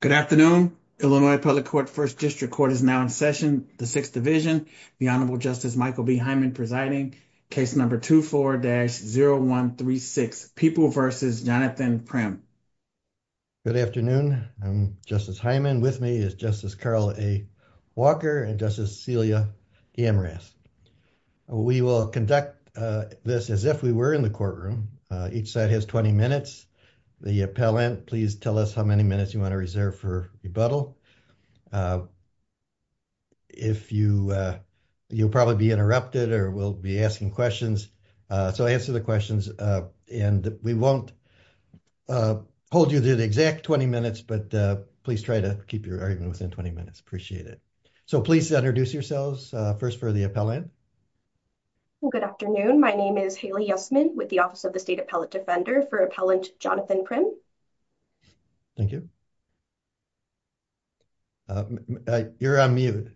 Good afternoon, Illinois Public Court First District Court is now in session. The 6th division, the Honorable Justice Michael B. Hyman presiding, case number 24-0136, People v. Jonathan Primm. Good afternoon, I'm Justice Hyman. With me is Justice Carl A. Walker and Justice Celia Amras. We will conduct this as if we were in the courtroom. Each side has 20 minutes. The appellant, please tell us how many minutes you want to reserve for rebuttal. If you, you'll probably be interrupted or we'll be asking questions. So answer the questions. And we won't hold you to the exact 20 minutes, but please try to keep your argument within 20 minutes. Appreciate it. So please introduce yourselves first for the appellant. Good afternoon. My name is Haley Yesman with the Office of the State Appellate Defender for Appellant Jonathan Primm. Thank you. You're on mute.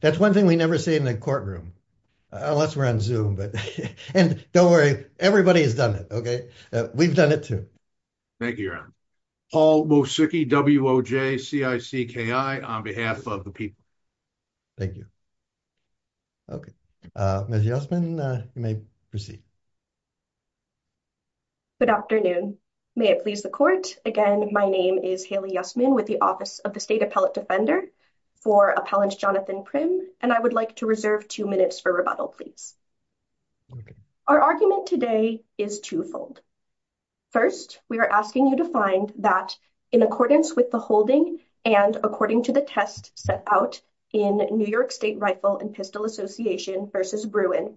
That's one thing we never say in the courtroom, unless we're on Zoom, but, and don't worry, everybody has done it. Okay, we've done it too. Thank you, Your Honor. Paul Mosicki, W.O.J. C.I.C.K.I. on behalf of the people. Thank you. Okay, Ms. Yesman, you may proceed. Good afternoon. May it please the court. Again, my name is Haley Yesman with the Office of the State Appellate Defender for Appellant Jonathan Primm, and I would like to reserve two minutes for rebuttal, please. Our argument today is twofold. First, we are asking you to find that, in accordance with the holding and according to the test set out in New York State Rifle and Pistol Association versus Bruin,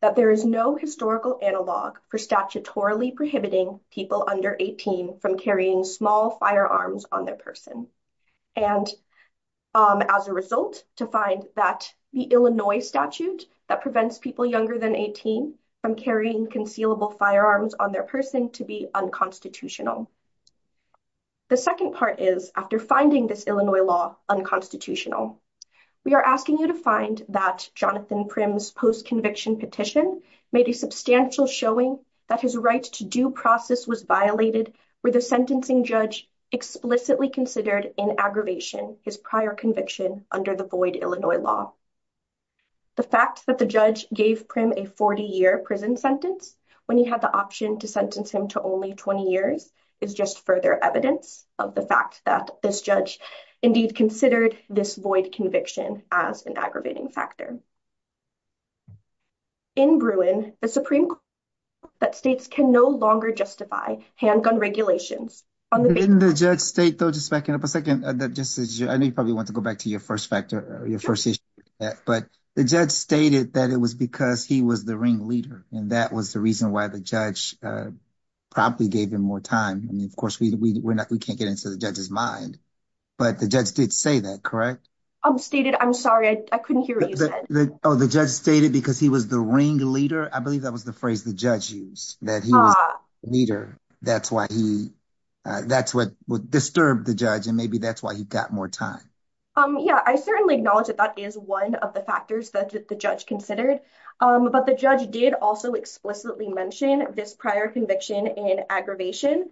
that there is no historical analog for statutorily prohibiting people under 18 from carrying small firearms on their person. And, as a result, to find that the Illinois statute that prevents people younger than 18 from carrying concealable firearms on their person to be unconstitutional. The second part is, after finding this Illinois law unconstitutional, we are asking you to find that Jonathan Primm's post-conviction petition made a substantial showing that his right to due process was violated with the sentencing judge explicitly considered in aggravation his prior conviction under the void Illinois law. The fact that the judge gave Primm a 40-year prison sentence when he had the option to sentence him to only 20 years is just further evidence of the fact that this judge indeed considered this void conviction as an aggravating factor. In Bruin, the Supreme Court found that states can no longer justify handgun regulations on the basis of— Didn't the judge state, though, just backing up a second, I know you probably want to go back to your first factor, your first issue, but the judge stated that it was because he was the ringleader, and that was the reason why the judge probably gave him more time. I mean, of course, we can't get into the judge's mind, but the judge did say that, correct? Stated, I'm sorry, I couldn't hear what you said. Oh, the judge stated because he was the ringleader? I believe that was the phrase the judge used, that he was the leader. That's what disturbed the judge, and maybe that's why he got more time. Yeah, I certainly acknowledge that that is one of the factors that the judge considered, but the judge did also explicitly mention this prior conviction in aggravation.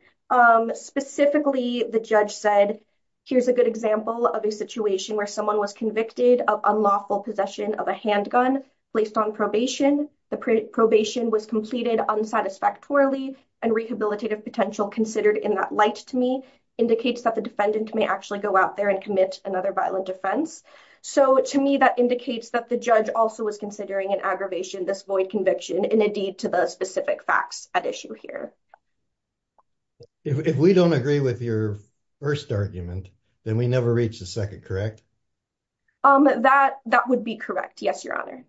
Specifically, the judge said, here's a good example of a situation where someone was convicted of unlawful possession of a handgun placed on probation. The probation was completed unsatisfactorily, and rehabilitative potential considered in that light, to me, indicates that the defendant may actually go out there and commit another violent offense. So, to me, that indicates that the judge also was considering an aggravation, this void conviction, and a deed to the specific facts at issue here. If we don't agree with your first argument, then we never reach the second, correct? That would be correct, yes, your honor.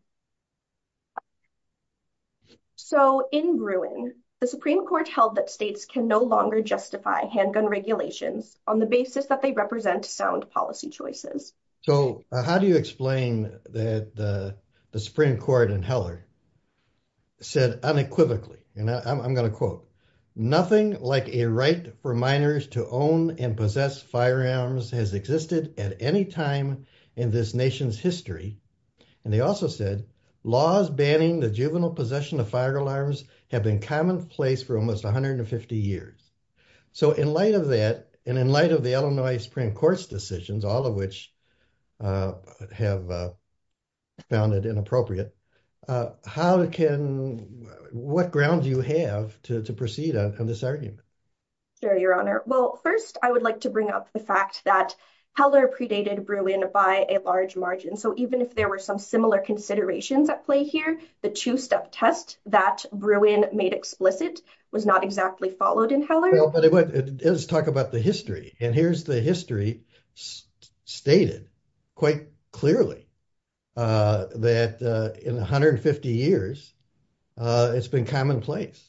So, in Bruin, the Supreme Court held that states can no longer justify handgun regulations on the basis that they represent sound policy choices. So, how do you explain that the Supreme Court in Heller said unequivocally, and I'm going to quote, Nothing like a right for minors to own and possess firearms has existed at any time in this nation's history. And they also said, laws banning the juvenile possession of firearms have been commonplace for almost 150 years. So, in light of that, and in light of the Illinois Supreme Court's decisions, all of which have found it inappropriate, how can, what ground do you have to proceed on this argument? Sure, your honor. Well, first, I would like to bring up the fact that Heller predated Bruin by a large margin. So, even if there were some similar considerations at play here, the two-step test that Bruin made explicit was not exactly followed in Heller. Let's talk about the history, and here's the history stated quite clearly that in 150 years, it's been commonplace.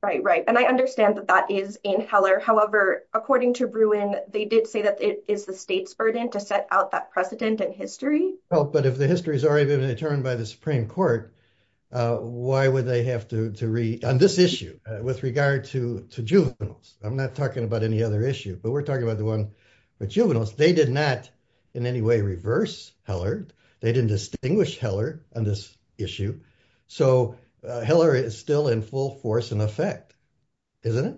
Right, right. And I understand that that is in Heller. However, according to Bruin, they did say that it is the state's burden to set out that precedent and history. Well, but if the history has already been determined by the Supreme Court, why would they have to read on this issue with regard to juveniles? I'm not talking about any other issue, but we're talking about the one with juveniles. They did not in any way reverse Heller. They didn't distinguish Heller on this issue. So, Heller is still in full force and effect, isn't it?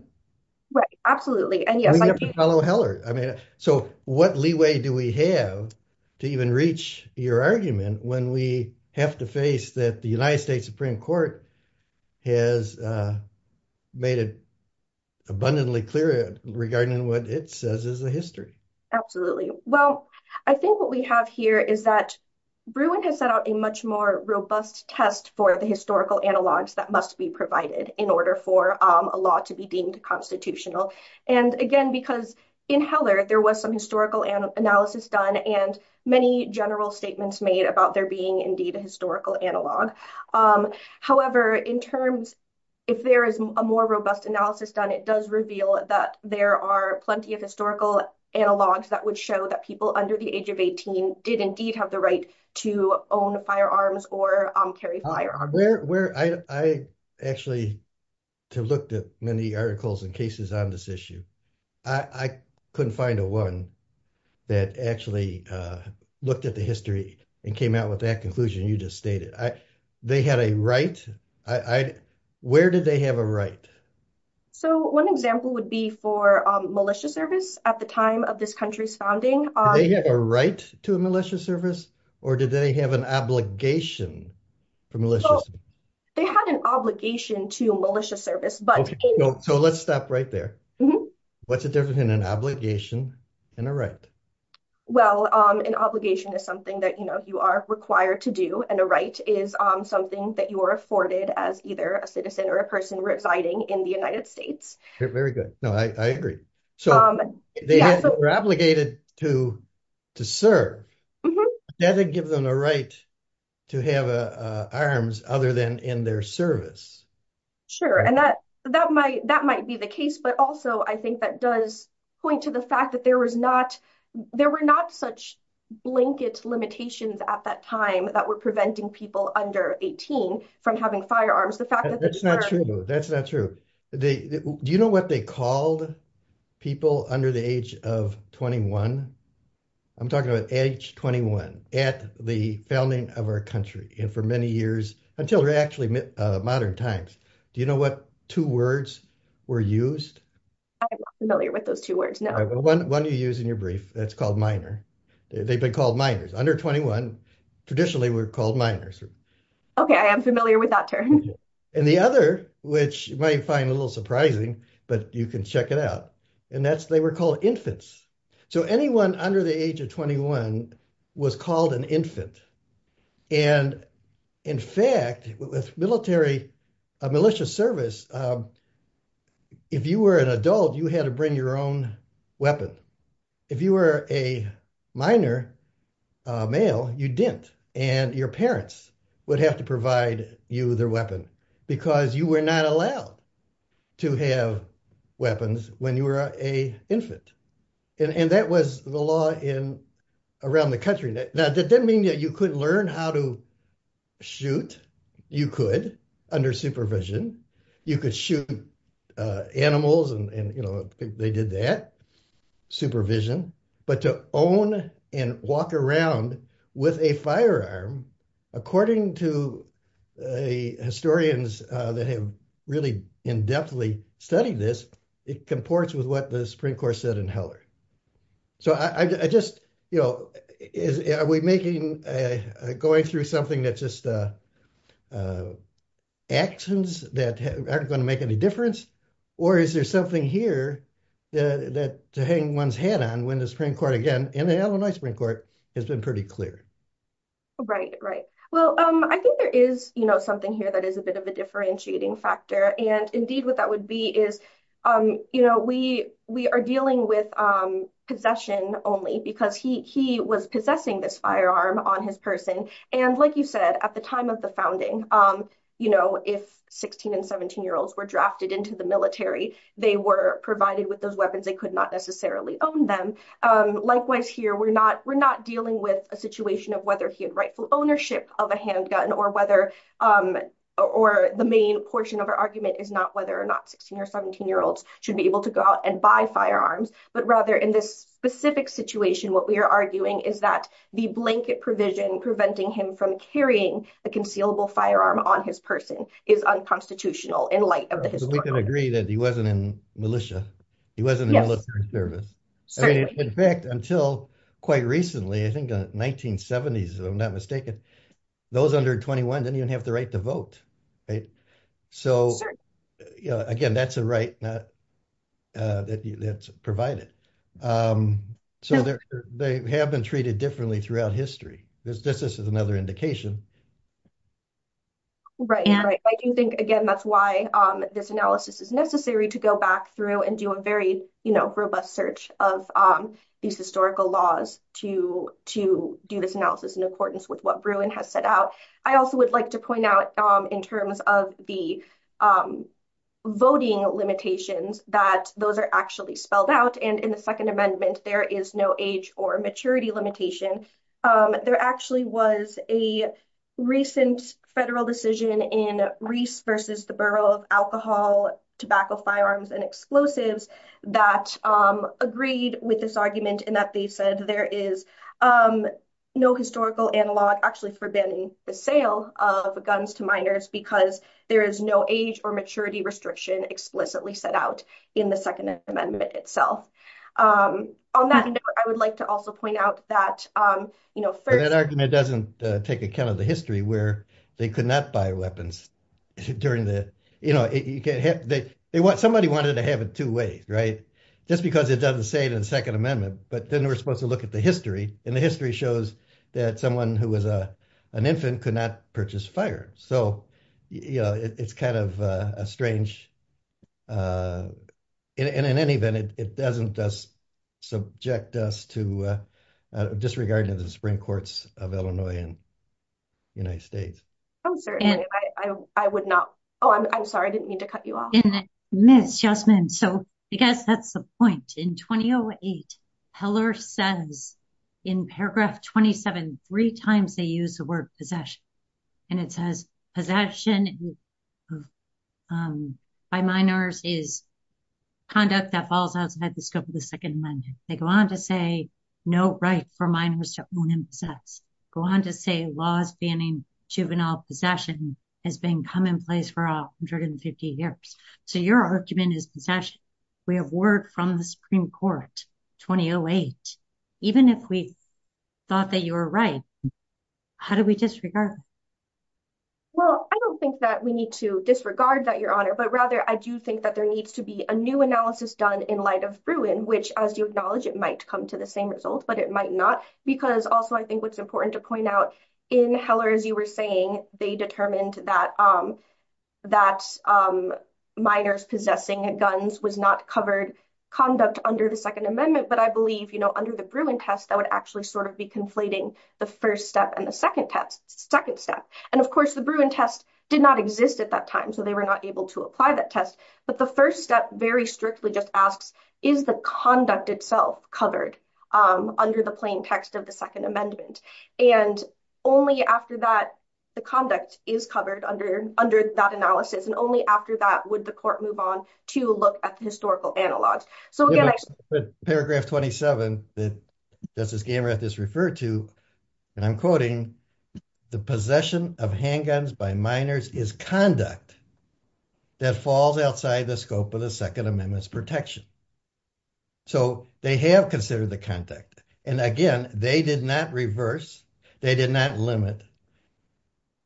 Right, absolutely. We have to follow Heller. So, what leeway do we have to even reach your argument when we have to face that the United States Supreme Court has made it abundantly clear regarding what it says is the history? Absolutely. Well, I think what we have here is that Bruin has set out a much more robust test for the historical analogs that must be provided in order for a law to be deemed constitutional. And again, because in Heller, there was some historical analysis done and many general statements made about there being indeed a historical analog. However, in terms, if there is a more robust analysis done, it does reveal that there are plenty of historical analogs that would show that people under the age of 18 did indeed have the right to own firearms or carry firearms. I actually looked at many articles and cases on this issue. I couldn't find a one that actually looked at the history and came out with that conclusion you just stated. They had a right? Where did they have a right? So, one example would be for militia service at the time of this country's founding. They had a right to a militia service? Or did they have an obligation for militia service? They had an obligation to militia service. So, let's stop right there. What's the difference between an obligation and a right? Well, an obligation is something that you are required to do and a right is something that you are afforded as either a citizen or a person residing in the United States. Very good. I agree. So, they were obligated to serve. Does that give them a right to have arms other than in their service? Sure, and that might be the case, but also I think that does point to the fact that there were not such blanket limitations at that time that were preventing people under 18 from having firearms. That's not true. That's not true. Do you know what they called people under the age of 21? I'm talking about age 21 at the founding of our country and for many years until actually modern times. Do you know what two words were used? I'm not familiar with those two words, no. One you use in your brief that's called minor. They've been called minors. Under 21, traditionally, we're called minors. Okay, I am familiar with that term. And the other, which you might find a little surprising, but you can check it out, and that's they were called infants. So, anyone under the age of 21 was called an infant. And in fact, with military, a militia service, if you were an adult, you had to bring your own weapon. If you were a minor male, you didn't, and your parents would have to provide you their weapon because you were not allowed to have weapons when you were an infant. And that was the law around the country. Now, that didn't mean that you couldn't learn how to shoot. You could, under supervision. You could shoot animals, and they did that, supervision. But to own and walk around with a firearm, according to historians that have really in-depthly studied this, it comports with what the Supreme Court said in Heller. So, I just, you know, are we making, going through something that's just actions that aren't going to make any difference? Or is there something here that to hang one's head on when the Supreme Court, again, in the Illinois Supreme Court, has been pretty clear? Right, right. Well, I think there is, you know, something here that is a bit of a differentiating factor. And indeed, what that would be is, you know, we are dealing with possession only because he was possessing this firearm on his person. And like you said, at the time of the founding, you know, if 16 and 17-year-olds were drafted into the military, they were provided with those weapons. They could not necessarily own them. Likewise here, we're not dealing with a situation of whether he had rightful ownership of a handgun or whether, or the main portion of our argument is not whether or not 16 or 17-year-olds should be able to go out and buy firearms. But rather, in this specific situation, what we are arguing is that the blanket provision preventing him from carrying a concealable firearm on his person is unconstitutional in light of the history. We can agree that he wasn't in militia. He wasn't in military service. Certainly. In fact, until quite recently, I think 1970s, if I'm not mistaken, those under 21 didn't even have the right to vote. Right? Certainly. Again, that's a right that's provided. So they have been treated differently throughout history. This is another indication. Right. I do think, again, that's why this analysis is necessary to go back through and do a very, you know, robust search of these historical laws to do this analysis in accordance with what Bruin has set out. I also would like to point out, in terms of the voting limitations, that those are actually spelled out and in the Second Amendment, there is no age or maturity limitation. There actually was a recent federal decision in Reese versus the Borough of Alcohol, Tobacco, Firearms and Explosives that agreed with this argument and that they said there is no historical analog actually for banning the sale of guns to minors because there is no age or maturity restriction explicitly set out in the Second Amendment itself. On that note, I would like to also point out that, you know, first... That argument doesn't take account of the history where they could not buy weapons during the, you know, somebody wanted to have it two ways, right? Just because it doesn't say it in the Second Amendment, but then we're supposed to look at the history and the history shows that someone who was an infant could not purchase firearms. So, you know, it's kind of a strange... And in any event, it doesn't just subject us to disregard to the Supreme Courts of Illinois and United States. I'm sorry, I would not... Oh, I'm sorry, I didn't mean to cut you off. Ms. Yasmin, so I guess that's the point. In 2008, Heller says in paragraph 27, three times they use the word possession, and it says possession by minors is conduct that falls outside the scope of the Second Amendment. They go on to say no right for minors to own and possess. Go on to say laws banning juvenile possession has been commonplace for 150 years. So your argument is possession. We have word from the Supreme Court, 2008. Even if we thought that you were right, how do we disregard it? Well, I don't think that we need to disregard that, Your Honor, but rather I do think that there needs to be a new analysis done in light of Bruin, which, as you acknowledge, it might come to the same result, but it might not. Because also, I think what's important to point out, in Heller, as you were saying, they determined that minors possessing guns was not covered conduct under the Second Amendment. But I believe, you know, under the Bruin test, that would actually sort of be conflating the first step and the second step. And, of course, the Bruin test did not exist at that time, so they were not able to apply that test. But the first step very strictly just asks, is the conduct itself covered under the plain text of the Second Amendment? And only after that, the conduct is covered under that analysis. And only after that would the court move on to look at the historical analogs. Paragraph 27 that Justice Gamerath has referred to, and I'm quoting, the possession of handguns by minors is conduct that falls outside the scope of the Second Amendment's protection. So they have considered the conduct. And again, they did not reverse, they did not limit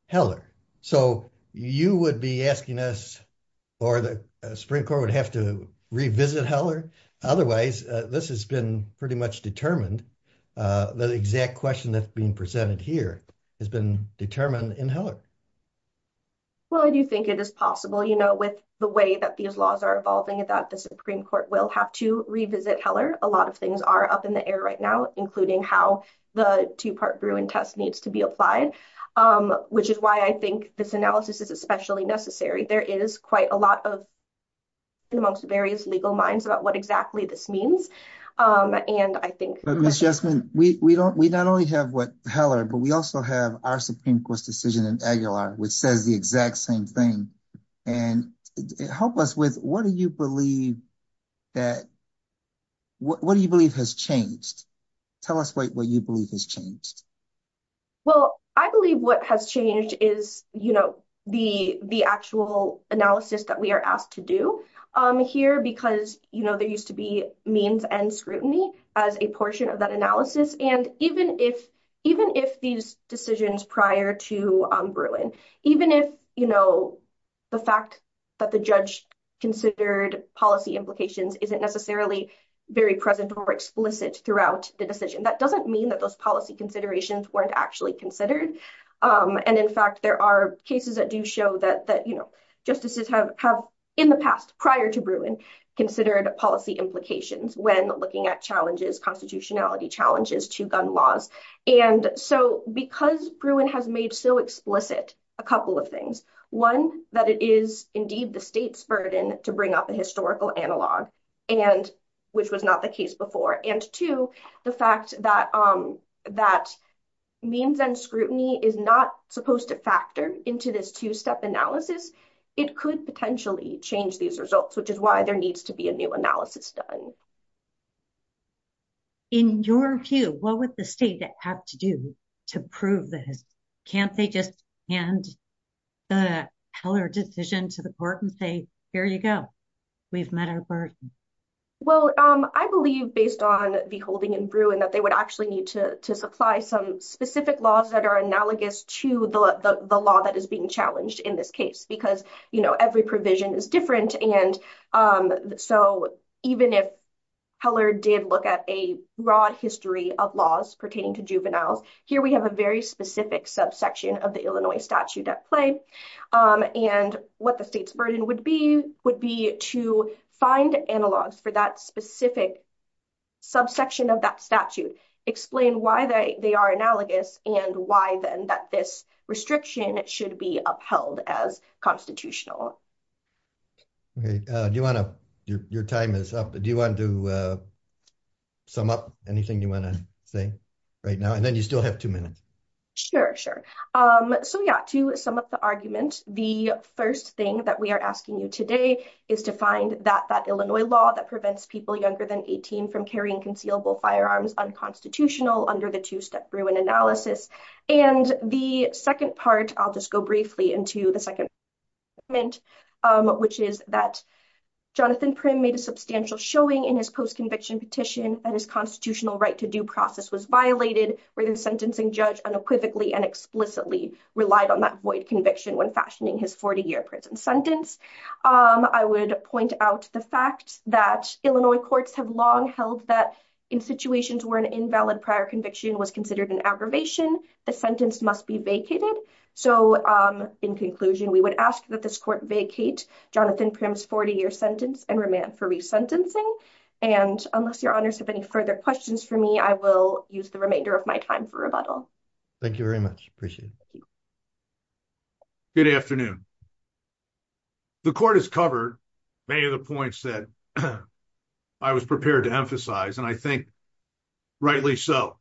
Heller. So you would be asking us, or the Supreme Court would have to revisit Heller? Otherwise, this has been pretty much determined. The exact question that's being presented here has been determined in Heller. Well, I do think it is possible, you know, with the way that these laws are evolving, that the Supreme Court will have to revisit Heller. A lot of things are up in the air right now, including how the two part Bruin test needs to be applied. Which is why I think this analysis is especially necessary. There is quite a lot of amongst various legal minds about what exactly this means. And I think, Ms. Jessamin, we don't, we not only have what Heller, but we also have our Supreme Court's decision in Aguilar, which says the exact same thing. And help us with what do you believe that, what do you believe has changed? Tell us what you believe has changed. Well, I believe what has changed is, you know, the actual analysis that we are asked to do here. Because, you know, there used to be means and scrutiny as a portion of that analysis. And even if these decisions prior to Bruin, even if, you know, the fact that the judge considered policy implications isn't necessarily very present or explicit throughout the decision. That doesn't mean that those policy considerations weren't actually considered. And in fact, there are cases that do show that, you know, justices have in the past prior to Bruin considered policy implications when looking at challenges, constitutionality challenges to gun laws. And so because Bruin has made so explicit a couple of things, one, that it is indeed the state's burden to bring up a historical analog. And which was not the case before. And two, the fact that means and scrutiny is not supposed to factor into this two-step analysis, it could potentially change these results, which is why there needs to be a new analysis done. In your view, what would the state have to do to prove this? Can't they just hand the Heller decision to the court and say, here you go. We've met our burden. Well, I believe based on the holding in Bruin that they would actually need to supply some specific laws that are analogous to the law that is being challenged in this case, because, you know, every provision is different. And so even if Heller did look at a broad history of laws pertaining to juveniles, here we have a very specific subsection of the Illinois statute at play. And what the state's burden would be, would be to find analogs for that specific subsection of that statute, explain why they are analogous and why then that this restriction should be upheld as constitutional. Your time is up. Do you want to sum up anything you want to say right now? And then you still have two minutes. Sure, sure. So, yeah, to sum up the argument, the first thing that we are asking you today is to find that that Illinois law that prevents people younger than 18 from carrying concealable firearms unconstitutional under the two-step Bruin analysis. And the second part, I'll just go briefly into the second argument, which is that Jonathan Prym made a substantial showing in his post-conviction petition that his constitutional right to due process was violated, where the sentencing judge unequivocally and explicitly relied on that void conviction when fashioning his 40-year prison sentence. I would point out the fact that Illinois courts have long held that in situations where an invalid prior conviction was considered an aggravation, the sentence must be vacated. So, in conclusion, we would ask that this court vacate Jonathan Prym's 40-year sentence and remand for resentencing. And unless your honors have any further questions for me, I will use the remainder of my time for rebuttal. Thank you very much. Appreciate it. Good afternoon. The court has covered many of the points that I was prepared to emphasize, and I think rightly so.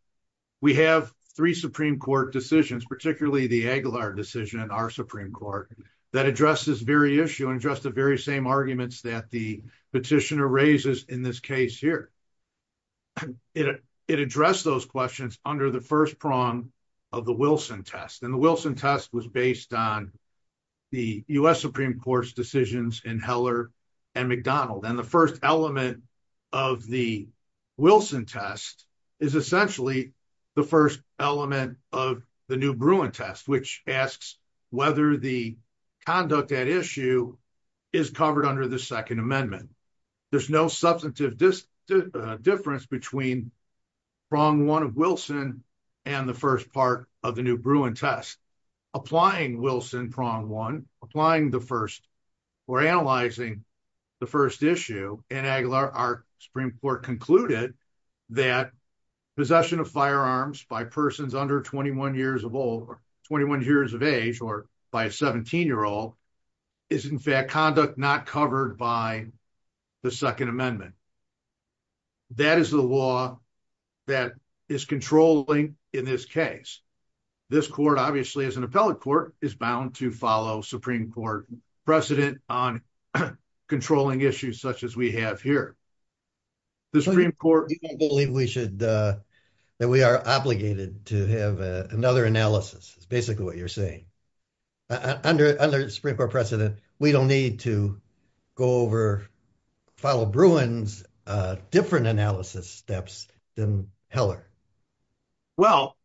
We have three Supreme Court decisions, particularly the Aguilar decision in our Supreme Court, that address this very issue and address the very same arguments that the petitioner raises in this case here. It addressed those questions under the first prong of the Wilson test, and the Wilson test was based on the U.S. Supreme Court's decisions in Heller and McDonald. And the first element of the Wilson test is essentially the first element of the New Bruin test, which asks whether the conduct at issue is covered under the Second Amendment. There's no substantive difference between prong one of Wilson and the first part of the New Bruin test. So, applying Wilson prong one, applying the first or analyzing the first issue in Aguilar, our Supreme Court concluded that possession of firearms by persons under 21 years of age or by a 17-year-old is in fact conduct not covered by the Second Amendment. That is the law that is controlling in this case. This court, obviously, as an appellate court, is bound to follow Supreme Court precedent on controlling issues such as we have here. The Supreme Court... I believe we should, that we are obligated to have another analysis, is basically what you're saying. Under the Supreme Court precedent, we don't need to go over, follow Bruin's different analysis steps than Heller. Well,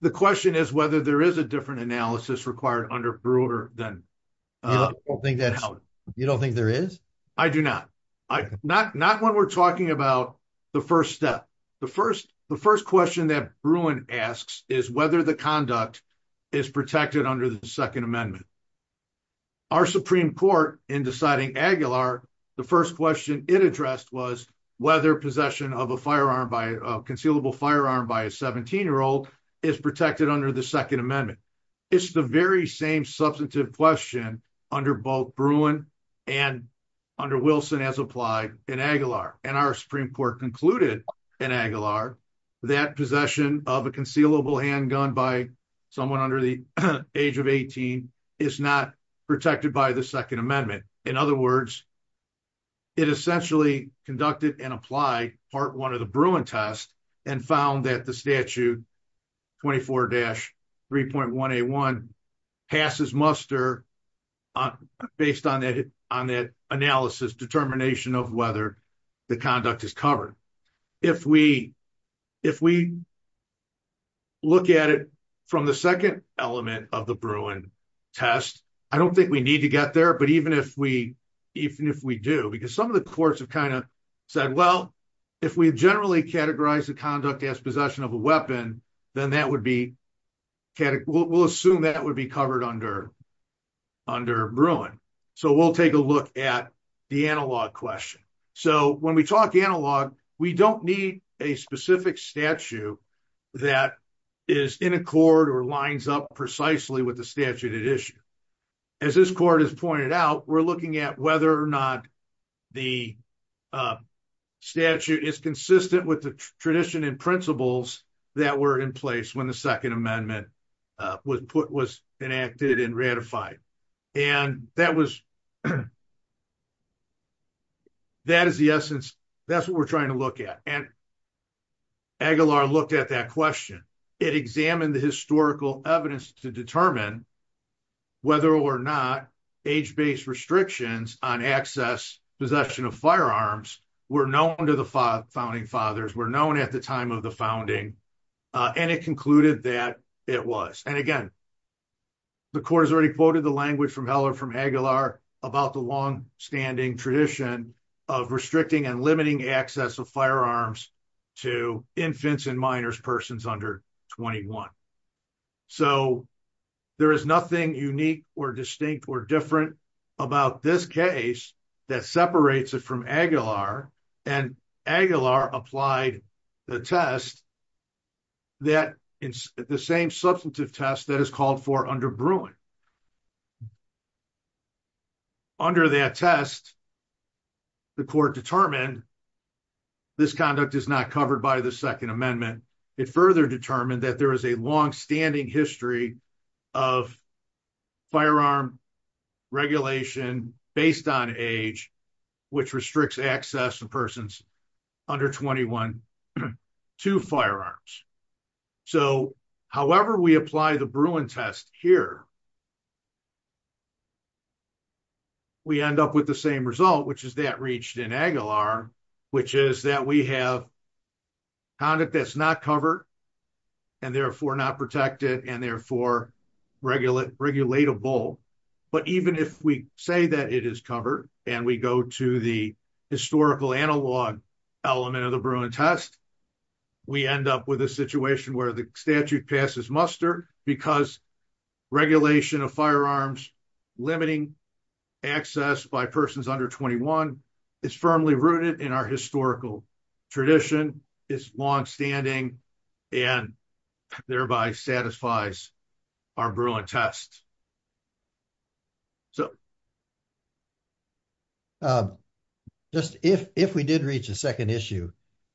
the question is whether there is a different analysis required under Bruin than Heller. You don't think there is? I do not. Not when we're talking about the first step. The first question that Bruin asks is whether the conduct is protected under the Second Amendment. Our Supreme Court, in deciding Aguilar, the first question it addressed was whether possession of a concealed firearm by a 17-year-old is protected under the Second Amendment. It's the very same substantive question under both Bruin and under Wilson as applied in Aguilar. And our Supreme Court concluded in Aguilar that possession of a concealable handgun by someone under the age of 18 is not protected by the Second Amendment. In other words, it essentially conducted and applied Part 1 of the Bruin test and found that the Statute 24-3.181 passes muster based on that analysis determination of whether the conduct is covered. If we look at it from the second element of the Bruin test, I don't think we need to get there, but even if we do, because some of the courts have kind of said, well, if we generally categorize the conduct as possession of a weapon, then we'll assume that would be covered under Bruin. So we'll take a look at the analog question. So when we talk analog, we don't need a specific statute that is in accord or lines up precisely with the statute at issue. As this court has pointed out, we're looking at whether or not the statute is consistent with the tradition and principles that were in place when the Second Amendment was enacted and ratified. And that is the essence. That's what we're trying to look at. And Aguilar looked at that question. It examined the historical evidence to determine whether or not age-based restrictions on access, possession of firearms were known to the founding fathers, were known at the time of the founding, and it concluded that it was. And again, the court has already quoted the language from Heller from Aguilar about the long-standing tradition of restricting and limiting access of firearms to infants and minors, persons under 21. So there is nothing unique or distinct or different about this case that separates it from Aguilar, and Aguilar applied the test, the same substantive test that is called for under Bruin. Under that test, the court determined this conduct is not covered by the Second Amendment. It further determined that there is a long-standing history of firearm regulation based on age, which restricts access to persons under 21 to firearms. So however we apply the Bruin test here, we end up with the same result, which is that reached in Aguilar, which is that we have conduct that's not covered and therefore not protected and therefore regulatable. But even if we say that it is covered and we go to the historical analog element of the Bruin test, we end up with a situation where the statute passes muster because regulation of firearms limiting access by persons under 21 is firmly rooted in our historical tradition, is long-standing, and thereby satisfies our Bruin test. So. Just if we did reach a second issue,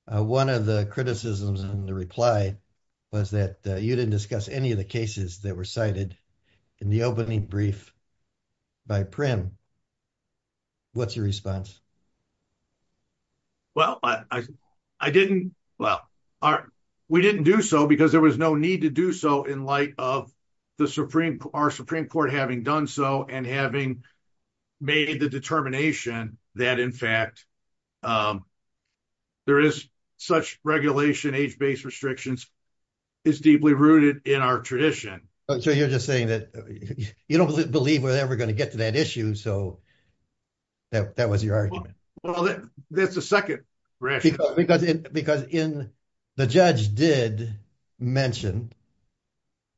one of the criticisms in the reply was that you didn't discuss any of the cases that were cited in the opening brief by Prim. What's your response? Well, we didn't do so because there was no need to do so in light of our Supreme Court having done so and having made the determination that, in fact, there is such regulation, age-based restrictions, is deeply rooted in our tradition. So you're just saying that you don't believe we're ever going to get to that issue. So that was your argument. Well, that's the second. Because the judge did mention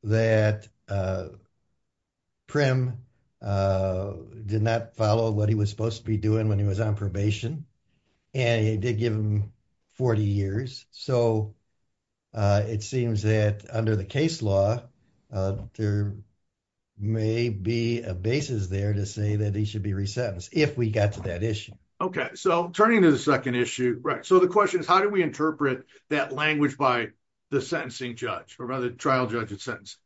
that Prim did not follow what he was supposed to be doing when he was on probation, and he did give him 40 years. So it seems that under the case law, there may be a basis there to say that he should be resentenced if we got to that issue. Okay, so turning to the second issue. Right. So the question is, how do we interpret that language by the sentencing judge or by the trial judge of sentence?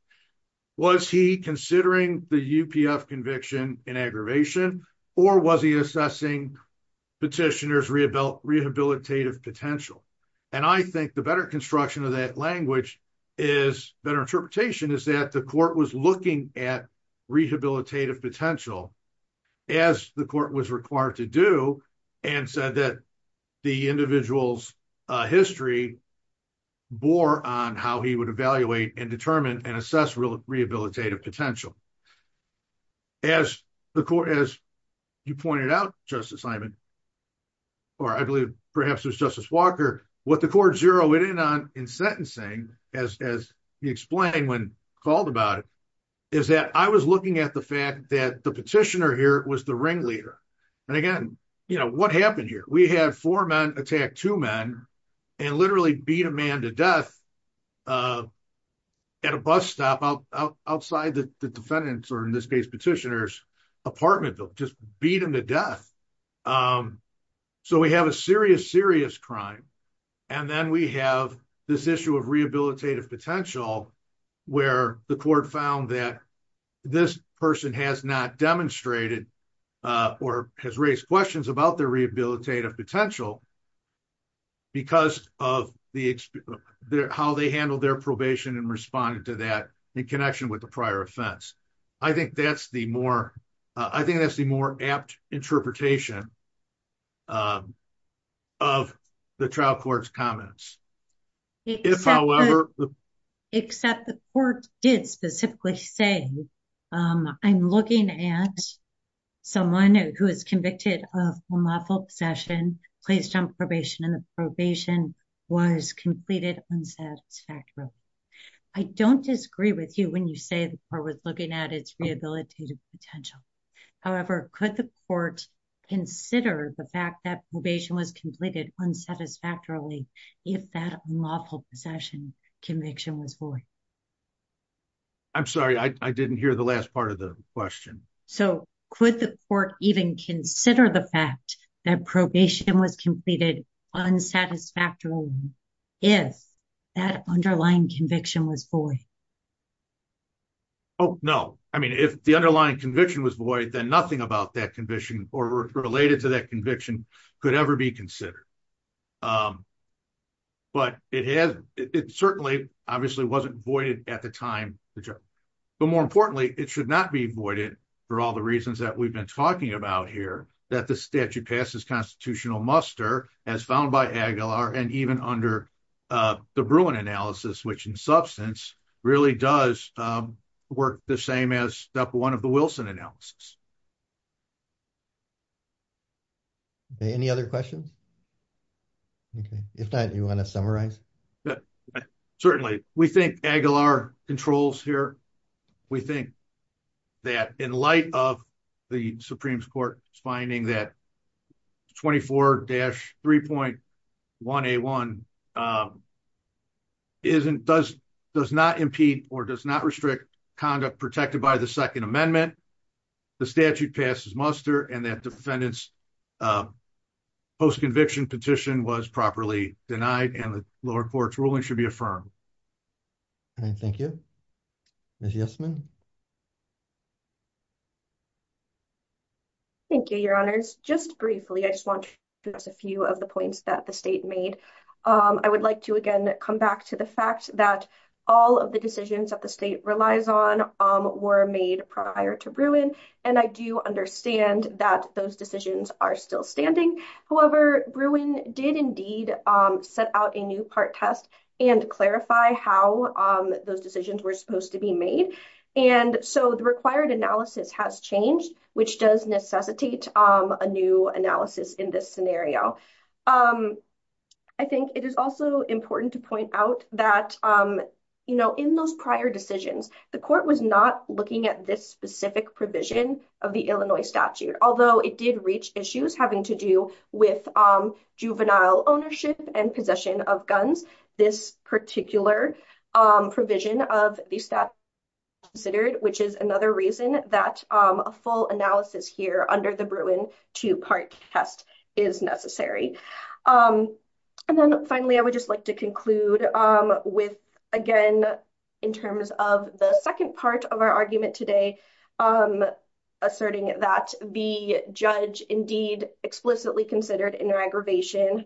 Was he considering the UPF conviction in aggravation, or was he assessing petitioners' rehabilitative potential? And I think the better construction of that language, better interpretation, is that the court was looking at rehabilitative potential, as the court was required to do, and said that the individual's history bore on how he would evaluate and determine and assess rehabilitative potential. As you pointed out, Justice Simon, or I believe perhaps it was Justice Walker, what the court zeroed in on in sentencing, as he explained when called about it, is that I was looking at the fact that the petitioner here was the ringleader. And again, you know, what happened here? We had four men attack two men, and literally beat a man to death at a bus stop outside the defendant's, or in this case, petitioner's apartment building, just beat him to death. So we have a serious, serious crime. And then we have this issue of rehabilitative potential, where the court found that this person has not demonstrated, or has raised questions about their rehabilitative potential, because of how they handled their probation and responded to that in connection with the prior offense. I think that's the more, I think that's the more apt interpretation of the trial court's comments. If I'll ever... Except the court did specifically say, I'm looking at someone who is convicted of unlawful possession, placed on probation, and the probation was completed unsatisfactorily. I don't disagree with you when you say the court was looking at its rehabilitative potential. However, could the court consider the fact that probation was completed unsatisfactorily, if that unlawful possession conviction was void? I'm sorry, I didn't hear the last part of the question. So, could the court even consider the fact that probation was completed unsatisfactorily, if that underlying conviction was void? Oh, no. I mean, if the underlying conviction was void, then nothing about that conviction, or related to that conviction, could ever be considered. But it has, it certainly obviously wasn't voided at the time, but more importantly, it should not be voided for all the reasons that we've been talking about here, that the statute passes constitutional muster, as found by Aguilar, and even under the Bruin analysis, which in substance, really does work the same as step one of the Wilson analysis. Any other questions? If not, do you want to summarize? Certainly. We think Aguilar controls here. We think that in light of the Supreme Court's finding that 24-3.1A1 does not impede or does not restrict conduct protected by the Second Amendment, the statute passes muster, and that defendant's post-conviction petition was properly denied, and the lower court's ruling should be affirmed. Thank you. Ms. Yesman? Thank you, Your Honors. Just briefly, I just want to address a few of the points that the state made. I would like to again come back to the fact that all of the decisions that the state relies on were made prior to Bruin, and I do understand that those decisions are still standing. However, Bruin did indeed set out a new part test and clarify how those decisions were supposed to be made, and so the required analysis has changed, which does necessitate a new analysis in this scenario. I think it is also important to point out that in those prior decisions, the court was not looking at this specific provision of the Illinois statute, although it did reach issues having to do with juvenile ownership and possession of guns. This particular provision of the statute was considered, which is another reason that a full analysis here under the Bruin II part test is necessary. Finally, I would just like to conclude with, again, in terms of the second part of our argument today, asserting that the judge indeed explicitly considered in their aggravation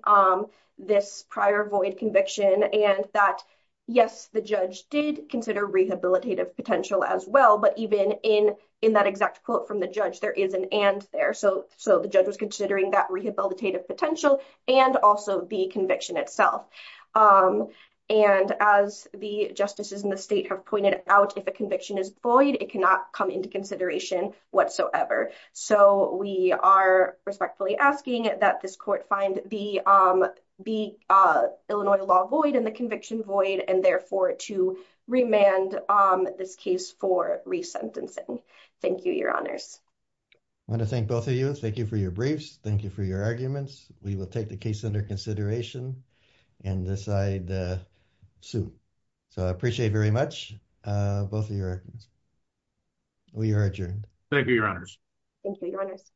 this prior void conviction, and that, yes, the judge did consider rehabilitative potential as well, but even in that exact quote from the judge, there is an and there. So the judge was considering that rehabilitative potential and also the conviction itself, and as the justices in the state have pointed out, if a conviction is void, it cannot come into consideration whatsoever. So we are respectfully asking that this court find the Illinois law void and the conviction void, and therefore to remand this case for resentencing. Thank you, Your Honors. I want to thank both of you. Thank you for your briefs. Thank you for your arguments. We will take the case under consideration and decide soon. So I appreciate very much both of your arguments. We are adjourned. Thank you, Your Honors. Thank you, Your Honors.